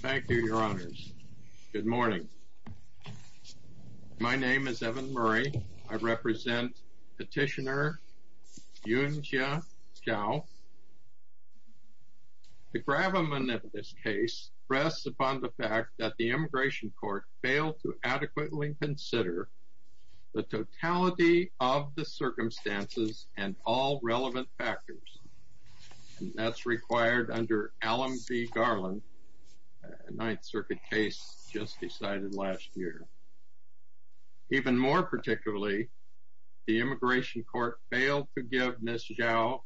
Thank you, your honors. Good morning. My name is Evan Murray. I represent petitioner Yunjia Zhou. The gravamen of this case rests upon the fact that the immigration court failed to adequately consider the totality of the circumstances and all relevant factors. And that's required under Allam v. Garland, a Ninth Circuit case just decided last year. Even more particularly, the immigration court failed to give Ms. Zhou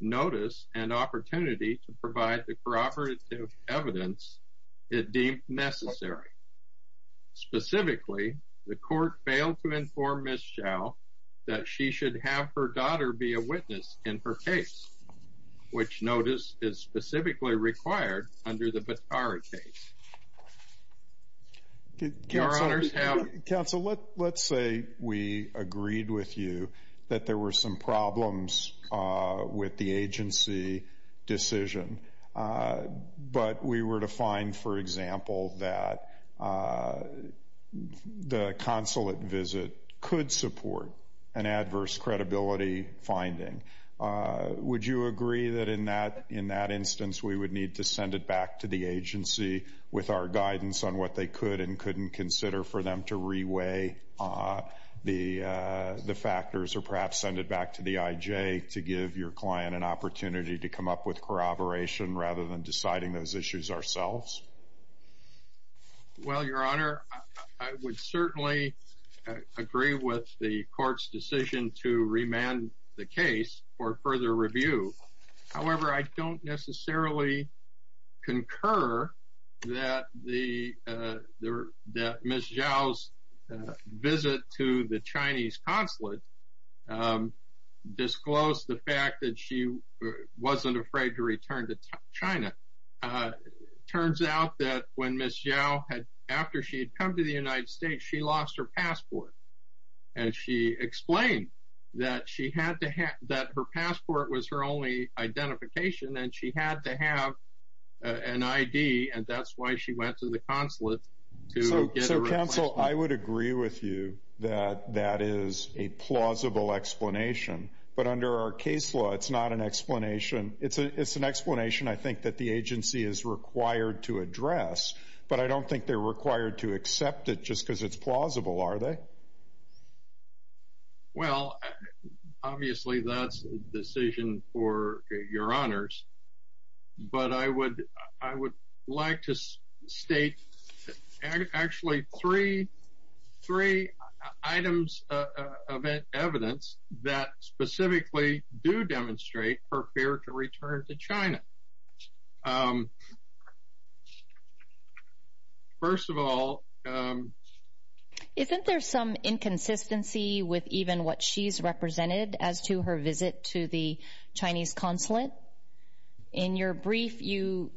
notice and opportunity to provide the corroborative evidence it deemed necessary. Specifically, the court failed to inform Ms. Zhou that she should have her daughter be a witness in her case, which notice is specifically required under the Batara case. Counsel, let's say we agreed with you that there were some problems with the agency decision, but we were to find, for example, that the consulate visit could support an adverse credibility finding. Would you agree that in that instance, we would need to send it back to the agency with our guidance on what they could and couldn't consider for them to reweigh the factors or perhaps send it back to the IJ to give your client an opportunity to come up with corroboration rather than deciding those issues ourselves? Well, Your Honor, I would certainly agree with the court's decision to remand the case for further review. However, I don't necessarily concur that Ms. Zhou's visit to the Chinese consulate disclosed the fact that she wasn't afraid to return to China. It turns out that when Ms. Zhou had come to the United States, she lost her passport. She explained that her passport was her only identification, and she had to have an ID, and that's why she went to the consulate. So, counsel, I would agree with you that that is a plausible explanation, but under our case law, it's not an explanation. It's an explanation, I think, that the agency is required to address, but I don't think they're required to accept it just because it's plausible, are they? Well, obviously, that's a decision for Your Honors, but I would like to state actually three items of evidence that specifically do demonstrate her fear to return to China. First of all, isn't there some inconsistency with even what she's represented as to her visit to the Chinese consulate? In your brief, you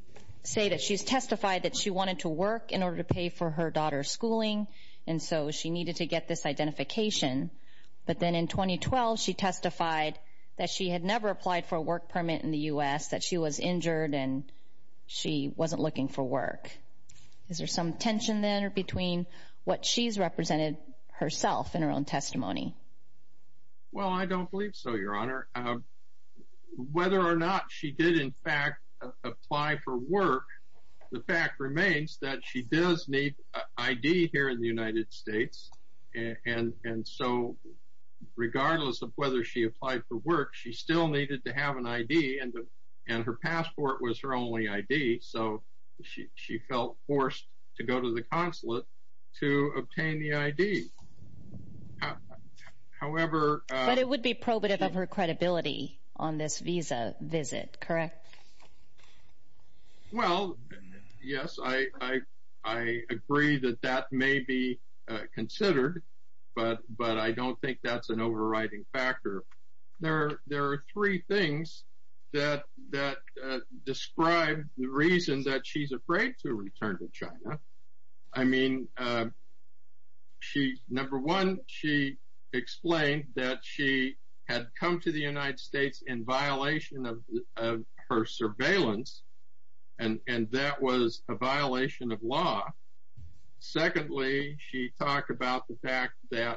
say that she's testified that she wanted to work in order to pay for her daughter's schooling, and so she needed to get this identification, but then in 2012, she testified that she had never applied for a work permit in the U.S., that she was injured, and she wasn't looking for work. Is there some tension there between what she's represented herself in her own testimony? Well, I don't believe so, Your Honor. Whether or not she did, in fact, apply for work, the fact remains that she does need an ID here in the United States, and so regardless of whether she applied for work, she still needed to have an ID, and her passport was her only ID, so she felt forced to go to the consulate to obtain the ID. However— But it would be probative of her credibility on this visa visit, correct? Well, yes, I agree that that may be considered, but I don't think that's an overriding factor. There are three things that describe the reason that she's afraid to return to China. I mean, number one, she explained that she had come to the United States in violation of her surveillance, and that was a violation of law. Secondly, she talked about the fact that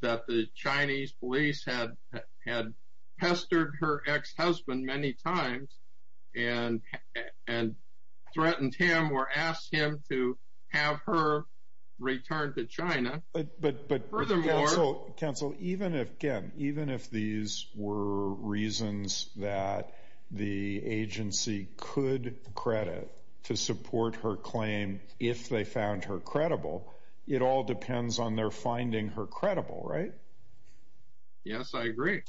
the Chinese police had pestered her ex-husband many times and threatened him or asked him to have her returned to China. Furthermore— But counsel, even if, again, even if these were reasons that the agency could credit to support her claim if they found her credible, it all depends on their finding her credible, right? Yes, I agree.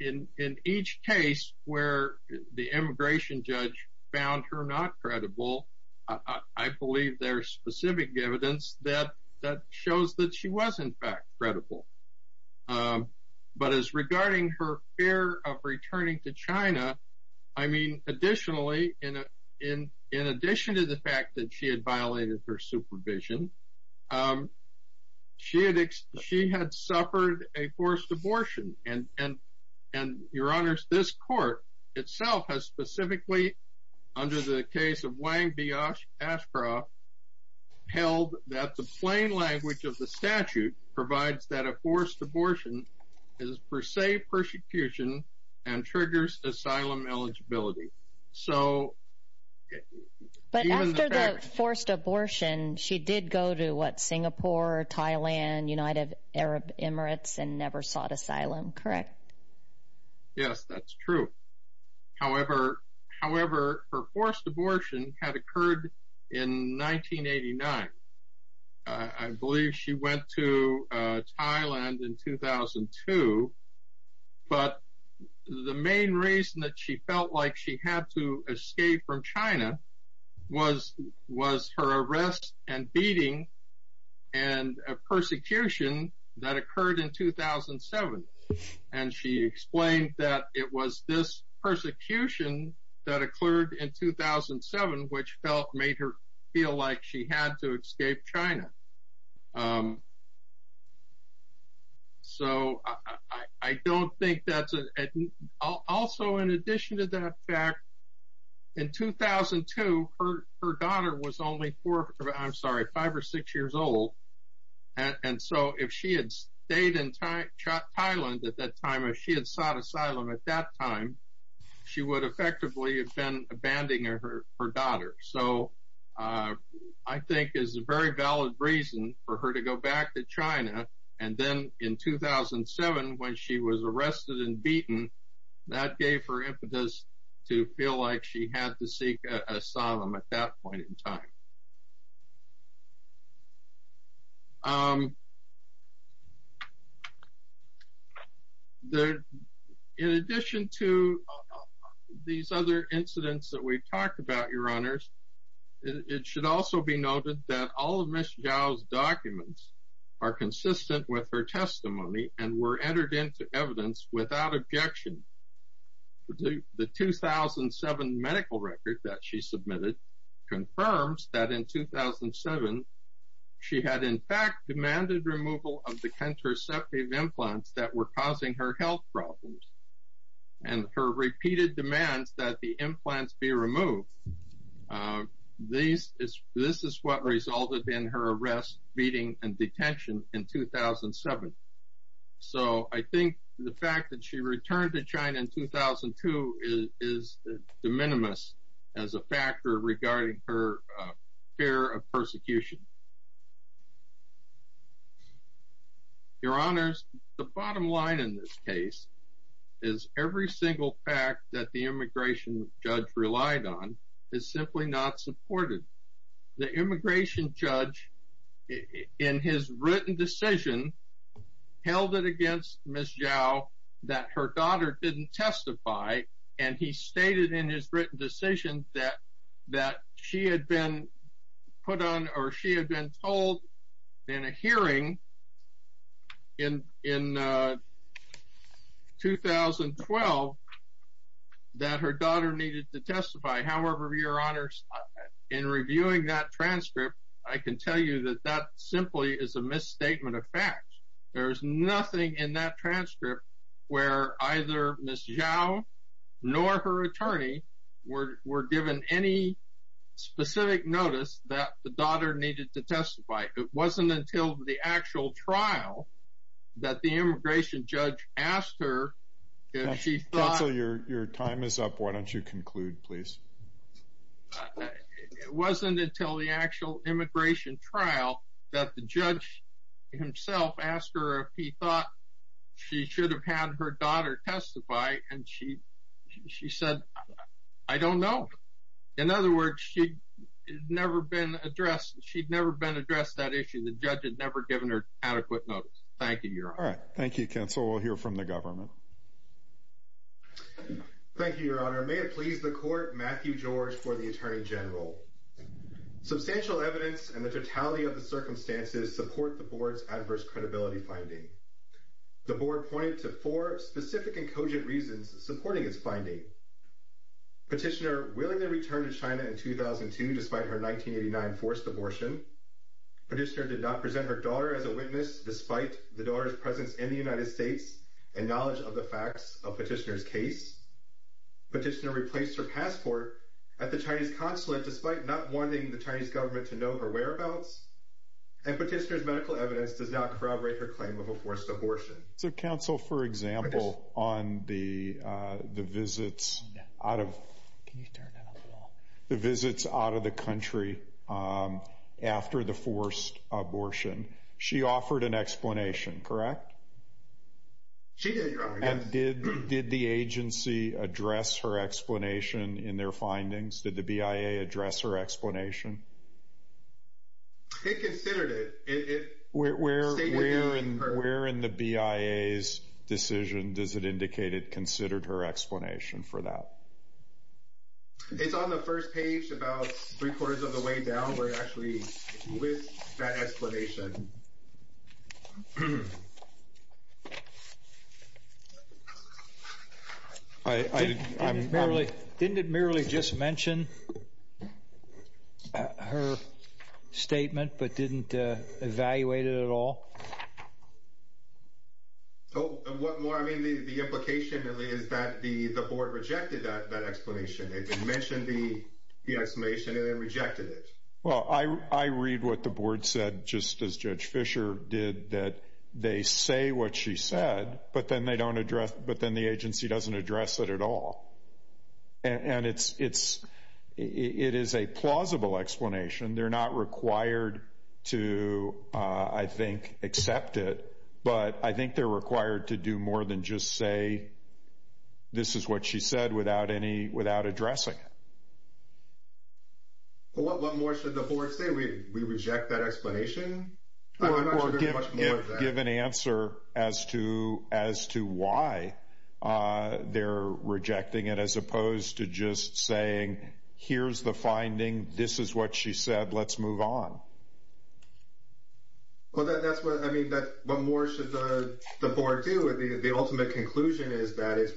In each case where the immigration judge found her not credible, I believe there's specific evidence that shows that she was, in fact, credible. But as regarding her fear of returning to China, I mean, additionally, in addition to the fact that she had violated her supervision, she had—she had suffered a forced abortion. And your honors, this court itself has specifically, under the case of Wang Biafra, held that the plain language of the statute provides that a forced abortion is per se persecution and triggers asylum eligibility. So— Singapore, Thailand, United Arab Emirates, and never sought asylum, correct? Yes, that's true. However, her forced abortion had occurred in 1989. I believe she went to Thailand in 2002, but the main reason that she felt like she had to escape from China was her arrest and beating and a persecution that occurred in 2007. And she explained that it was this persecution that occurred in 2007, which felt—made her feel like she had to escape China. So, I don't think that's—also, in addition to that fact, in 2002, her daughter was only four—I'm sorry, five or six years old. And so, if she had stayed in Thailand at that time, if she had sought asylum at that time, she would effectively have been abandoning her daughter. So, I think it's a very valid reason for her to go back to China. And then, in 2007, when she was arrested and beaten, that gave her impetus to feel like she had to seek asylum at that point in time. In addition to these other incidents that we've talked about, Your Honors, it should also be noted that all of Ms. Zhao's documents are consistent with her testimony and were entered into evidence without objection. The 2007 medical record that she submitted confirms that in 2007, she had, in fact, demanded removal of the contraceptive implants that were This is what resulted in her arrest, beating, and detention in 2007. So, I think the fact that she returned to China in 2002 is de minimis as a factor regarding her fear of persecution. Your Honors, the bottom line in this case is every single fact that the immigration judge relied on is simply not supported. The immigration judge, in his written decision, held it against Ms. Zhao that her daughter didn't testify, and he stated in his written decision that she had been told in a hearing in 2012 that her daughter needed to testify. However, Your Honors, in reviewing that transcript, I can tell you that that simply is a misstatement of any specific notice that the daughter needed to testify. It wasn't until the actual trial that the immigration judge asked her if she thought— Counsel, your time is up. Why don't you conclude, please? It wasn't until the actual immigration trial that the judge himself asked her if he thought she should have had her daughter testify, and she said, I don't know. In other words, she'd never been addressed that issue. The judge had never given her adequate notice. Thank you, Your Honor. All right. Thank you, Counsel. We'll hear from the government. Thank you, Your Honor. May it please the Court, Matthew George for the Attorney General. Substantial evidence and the totality of the circumstances support the Board's findings. The Board pointed to four specific and cogent reasons supporting its finding. Petitioner willingly returned to China in 2002 despite her 1989 forced abortion. Petitioner did not present her daughter as a witness despite the daughter's presence in the United States and knowledge of the facts of Petitioner's case. Petitioner replaced her passport at the Chinese consulate despite not wanting the Chinese government to know her existence. Counsel, for example, on the visits out of the country after the forced abortion, she offered an explanation, correct? She did, Your Honor. And did the agency address her explanation in their findings? Did the BIA address her explanation? It considered it. Where in the BIA's decision does it indicate it considered her explanation for that? It's on the first page about three quarters of the way down where it actually lists that explanation. Didn't it merely just mention her statement but didn't evaluate it at all? The implication is that the Board rejected that explanation. It mentioned the just as Judge Fischer did, that they say what she said, but then the agency doesn't address it at all. And it is a plausible explanation. They're not required to, I think, accept it, but I think they're required to do more than just say this is what she said without addressing it. Well, what more should the Board say? We reject that explanation? I'm not sure there's much more to that. Give an answer as to why they're rejecting it as opposed to just saying, here's the finding, this is what she said, let's move on. Well, that's what, I mean, what more should the Board do? The ultimate conclusion is that it's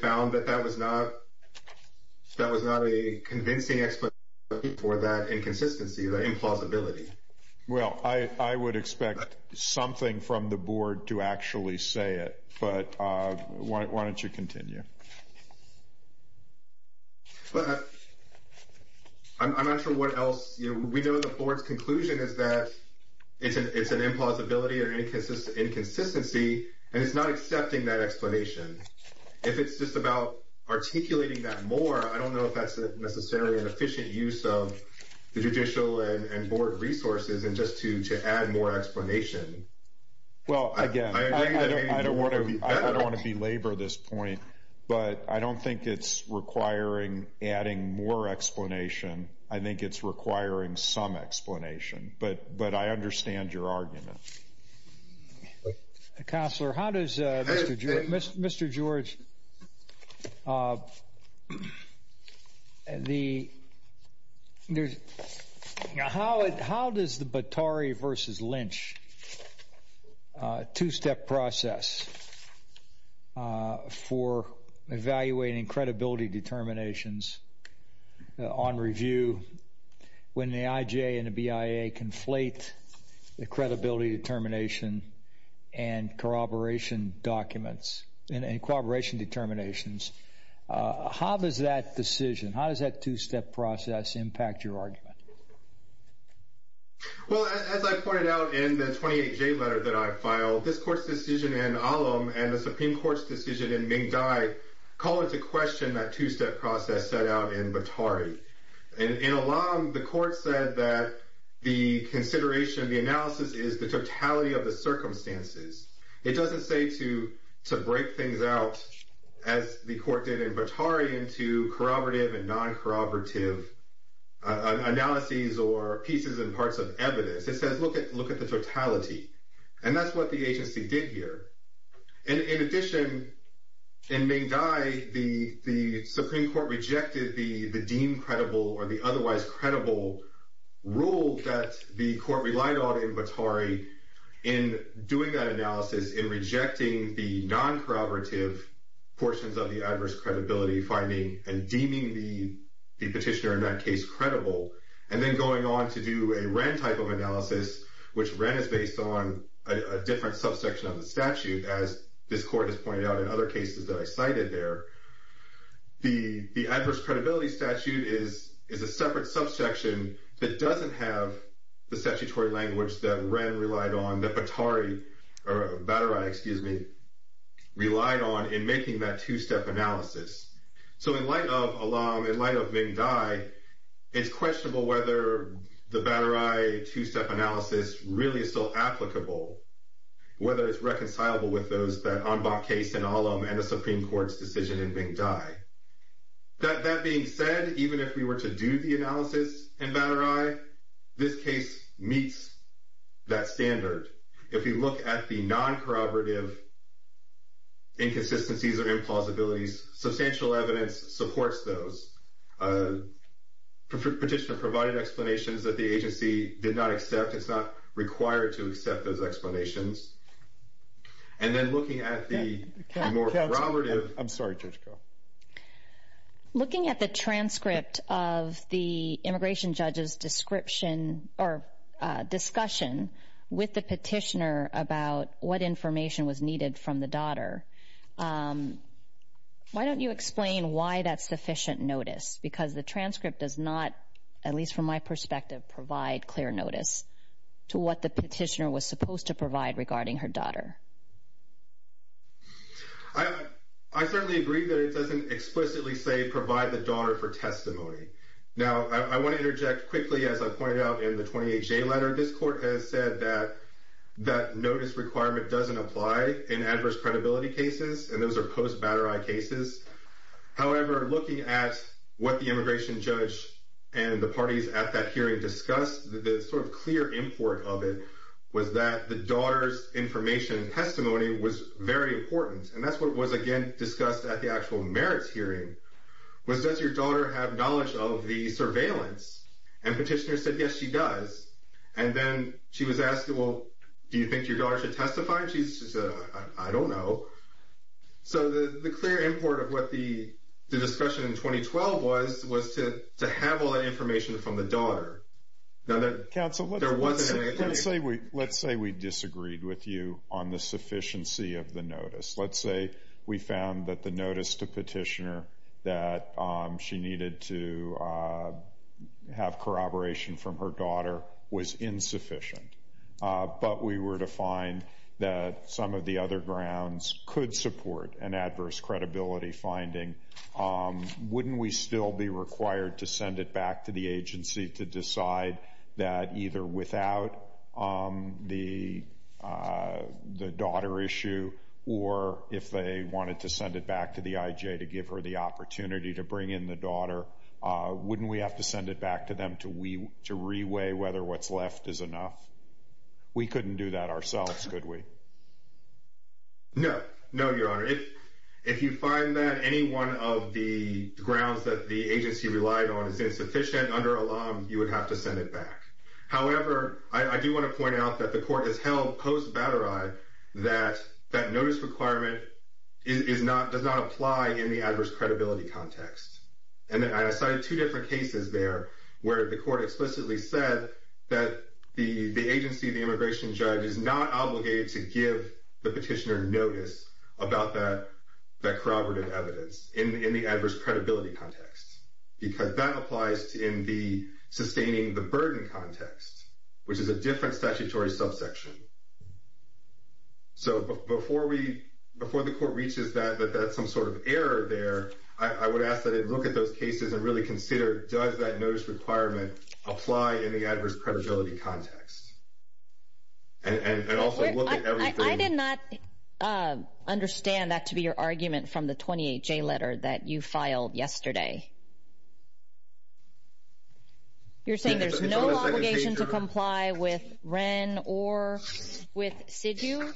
found that that was not a convincing explanation for that inconsistency, that implausibility. Well, I would expect something from the Board to actually say it, but why don't you continue? But I'm not sure what else. We know the Board's conclusion is that it's an implausibility or inconsistency, and it's not accepting that explanation. If it's just about articulating that more, I don't know if that's necessarily an efficient use of the judicial and Board resources and just to add more explanation. Well, again, I don't want to belabor this point, but I don't think it's requiring adding more explanation. I think it's requiring some explanation, but I understand your argument. Counselor, how does Mr. George, how does the Batari versus Lynch two-step process for evaluating credibility determinations on review when the IJ and the BIA conflate the credibility determination and corroboration documents and corroboration determinations? How does that decision, how does that two-step process impact your argument? Well, as I pointed out in the 28J letter that I filed, this Court's decision in Alam and the Supreme Court's decision in Mingdi call into question that two-step process set out in Batari. And in Alam, the Court said that the consideration, the analysis is the totality of the circumstances. It doesn't say to break things out as the Court did in Batari into corroborative and non-corroborative analyses or pieces and parts of evidence. It says look at the totality, and that's what the agency did here. In addition, in Mingdi, the Supreme Court rejected the deemed credible or the otherwise credible rule that the Court relied on in Batari in doing that analysis, in rejecting the non-corroborative portions of the adverse credibility finding and deeming the petitioner in that case credible. And then going on to do a Wren type of analysis, which Wren is based on a different subsection of the statute, as this Court has pointed out in other cases that I cited there. The adverse credibility statute is a separate subsection that doesn't have the statutory language that Wren relied on, that Batari relied on in making that two-step analysis. So in light of Alam, in light of Mingdi, it's questionable whether the Batari two-step analysis really is still applicable, whether it's reconcilable with those that the Supreme Court's decision in Mingdi. That being said, even if we were to do the analysis in Batari, this case meets that standard. If we look at the non-corroborative inconsistencies or implausibilities, substantial evidence supports those. Petitioner provided explanations that the agency did not accept. It's not required to corroborate. I'm sorry, Judge Carroll. Looking at the transcript of the immigration judge's discussion with the petitioner about what information was needed from the daughter, why don't you explain why that's sufficient notice? Because the transcript does not, at least from my perspective, provide clear notice to what the petitioner was supposed to provide regarding her daughter. I certainly agree that it doesn't explicitly say provide the daughter for testimony. Now, I want to interject quickly, as I pointed out in the 28-J letter. This court has said that that notice requirement doesn't apply in adverse credibility cases, and those are post-Batari cases. However, looking at what the immigration judge and the parties at that hearing discussed, the sort of clear import of it was that the daughter's information testimony was very important. And that's what was, again, discussed at the actual merits hearing, was does your daughter have knowledge of the surveillance? And petitioner said, yes, she does. And then she was asked, well, do you think your daughter should testify? And she said, I don't know. So the clear import of what the discussion in 2012 was was to have all that information from the daughter. Now, there wasn't any... Counsel, let's say we disagreed with you on the notice. Let's say we found that the notice to petitioner that she needed to have corroboration from her daughter was insufficient, but we were to find that some of the other grounds could support an adverse credibility finding. Wouldn't we still be required to send it back to the agency to decide that either without the daughter issue or if they wanted to send it back to the IJ to give her the opportunity to bring in the daughter, wouldn't we have to send it back to them to reweigh whether what's left is enough? We couldn't do that ourselves, could we? No. No, Your Honor. If you find that any one of the grounds that the agency relied on is insufficient under alum, you would have to send it back. However, I do want to point out that the court has held post batteri that that notice requirement does not apply in the adverse credibility context. And I cited two different cases there where the court explicitly said that the agency, the immigration judge, is not obligated to give the petitioner notice about that corroborative evidence in the adverse credibility context, because that applies in the sustaining the burden context, which is a different statutory subsection. So before the court reaches that some sort of error there, I would ask that it look at those cases and really consider does that notice requirement apply in the adverse credibility context? And also look at everything... I did not understand that to be your argument from the 28J letter that you filed yesterday. You're saying there's no obligation to comply with Wren or with Sidhu?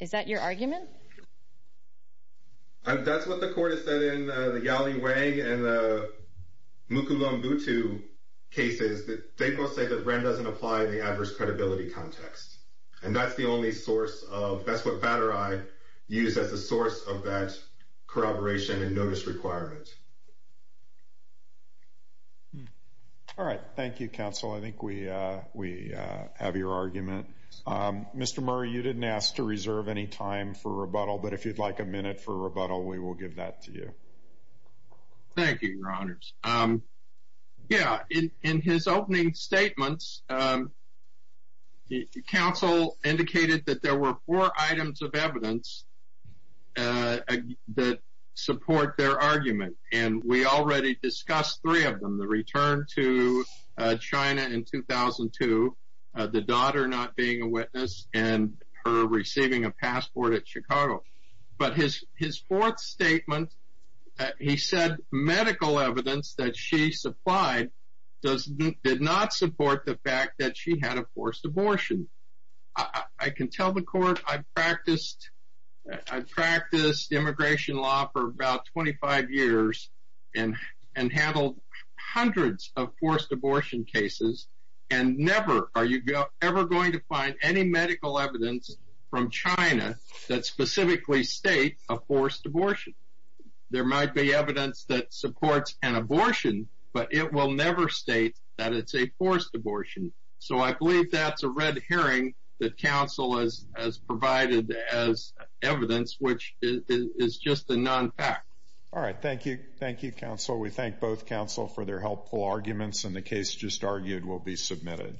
Is that your argument? That's what the court has said in the Yali Wang and the Mukulam Butu cases. They both say that Wren doesn't apply in the adverse credibility context. And that's the only source of... That's what batteri used as the source of that corroboration and notice requirement. All right. Thank you, counsel. I think we have your argument. Mr. Murr, you didn't ask to rebuttal, but if you'd like a minute for rebuttal, we will give that to you. Thank you, your honors. Yeah, in his opening statements, counsel indicated that there were four items of evidence that support their argument. And we already discussed three of them. The return to China in 2002, the daughter not being a witness, and her receiving a passport at Chicago. But his fourth statement, he said medical evidence that she supplied did not support the fact that she had a forced abortion. I can tell the court I've practiced immigration law for about 25 years and handled hundreds of forced abortion cases. And never are you ever going to find any medical evidence from China that specifically states a forced abortion. There might be evidence that supports an abortion, but it will never state that it's a forced abortion. So I believe that's a red herring that counsel has provided as evidence, which is just a non-fact. All right. Thank you. Thank you, counsel. We thank both counsel for their helpful arguments, and the case just argued will be submitted.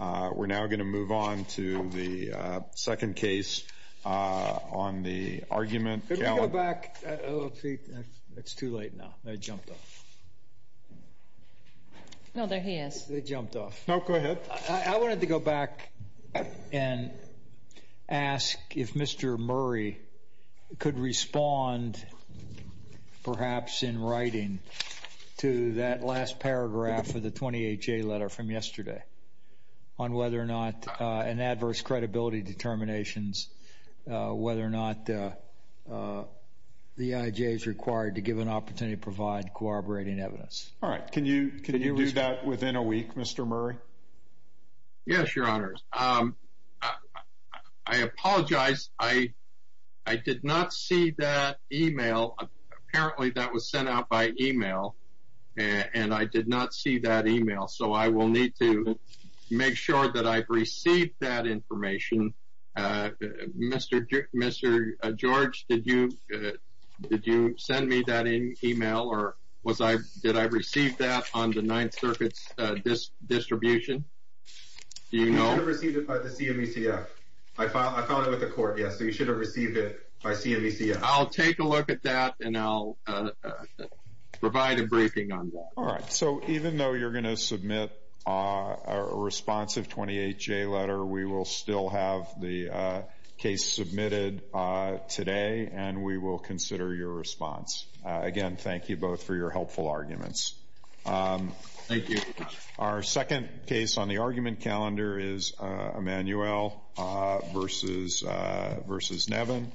We're now going to move on to the second case on the argument. Could we go back? It's too late now. They jumped off. No, there he is. They jumped off. No, go ahead. I wanted to go back and ask if Mr. Murray could respond perhaps in writing to that last paragraph of the 28-J letter from yesterday on whether or not an adverse credibility determinations, whether or not the IJ is required to give an opportunity to provide corroborating evidence. All right. Can you do that within a week, Mr. Murray? Yes, your honors. I apologize. I did not see that email. Apparently, that was sent out by email, and I did not see that email. So I will need to make sure that I've received that information. Mr. George, did you send me that email? Or did I receive that on the Ninth Circuit's distribution? Do you know? I received it by the CMECF. I found it with the court, yes. So you should have received it by CMECF. I'll take a look at that, and I'll provide a briefing on that. All right. So even though you're going to submit a responsive 28-J letter, we will still have the case submitted today, and we will consider your response. Again, thank you both for your helpful arguments. Thank you. Our second case on the argument calendar is Emmanuel versus Nevin.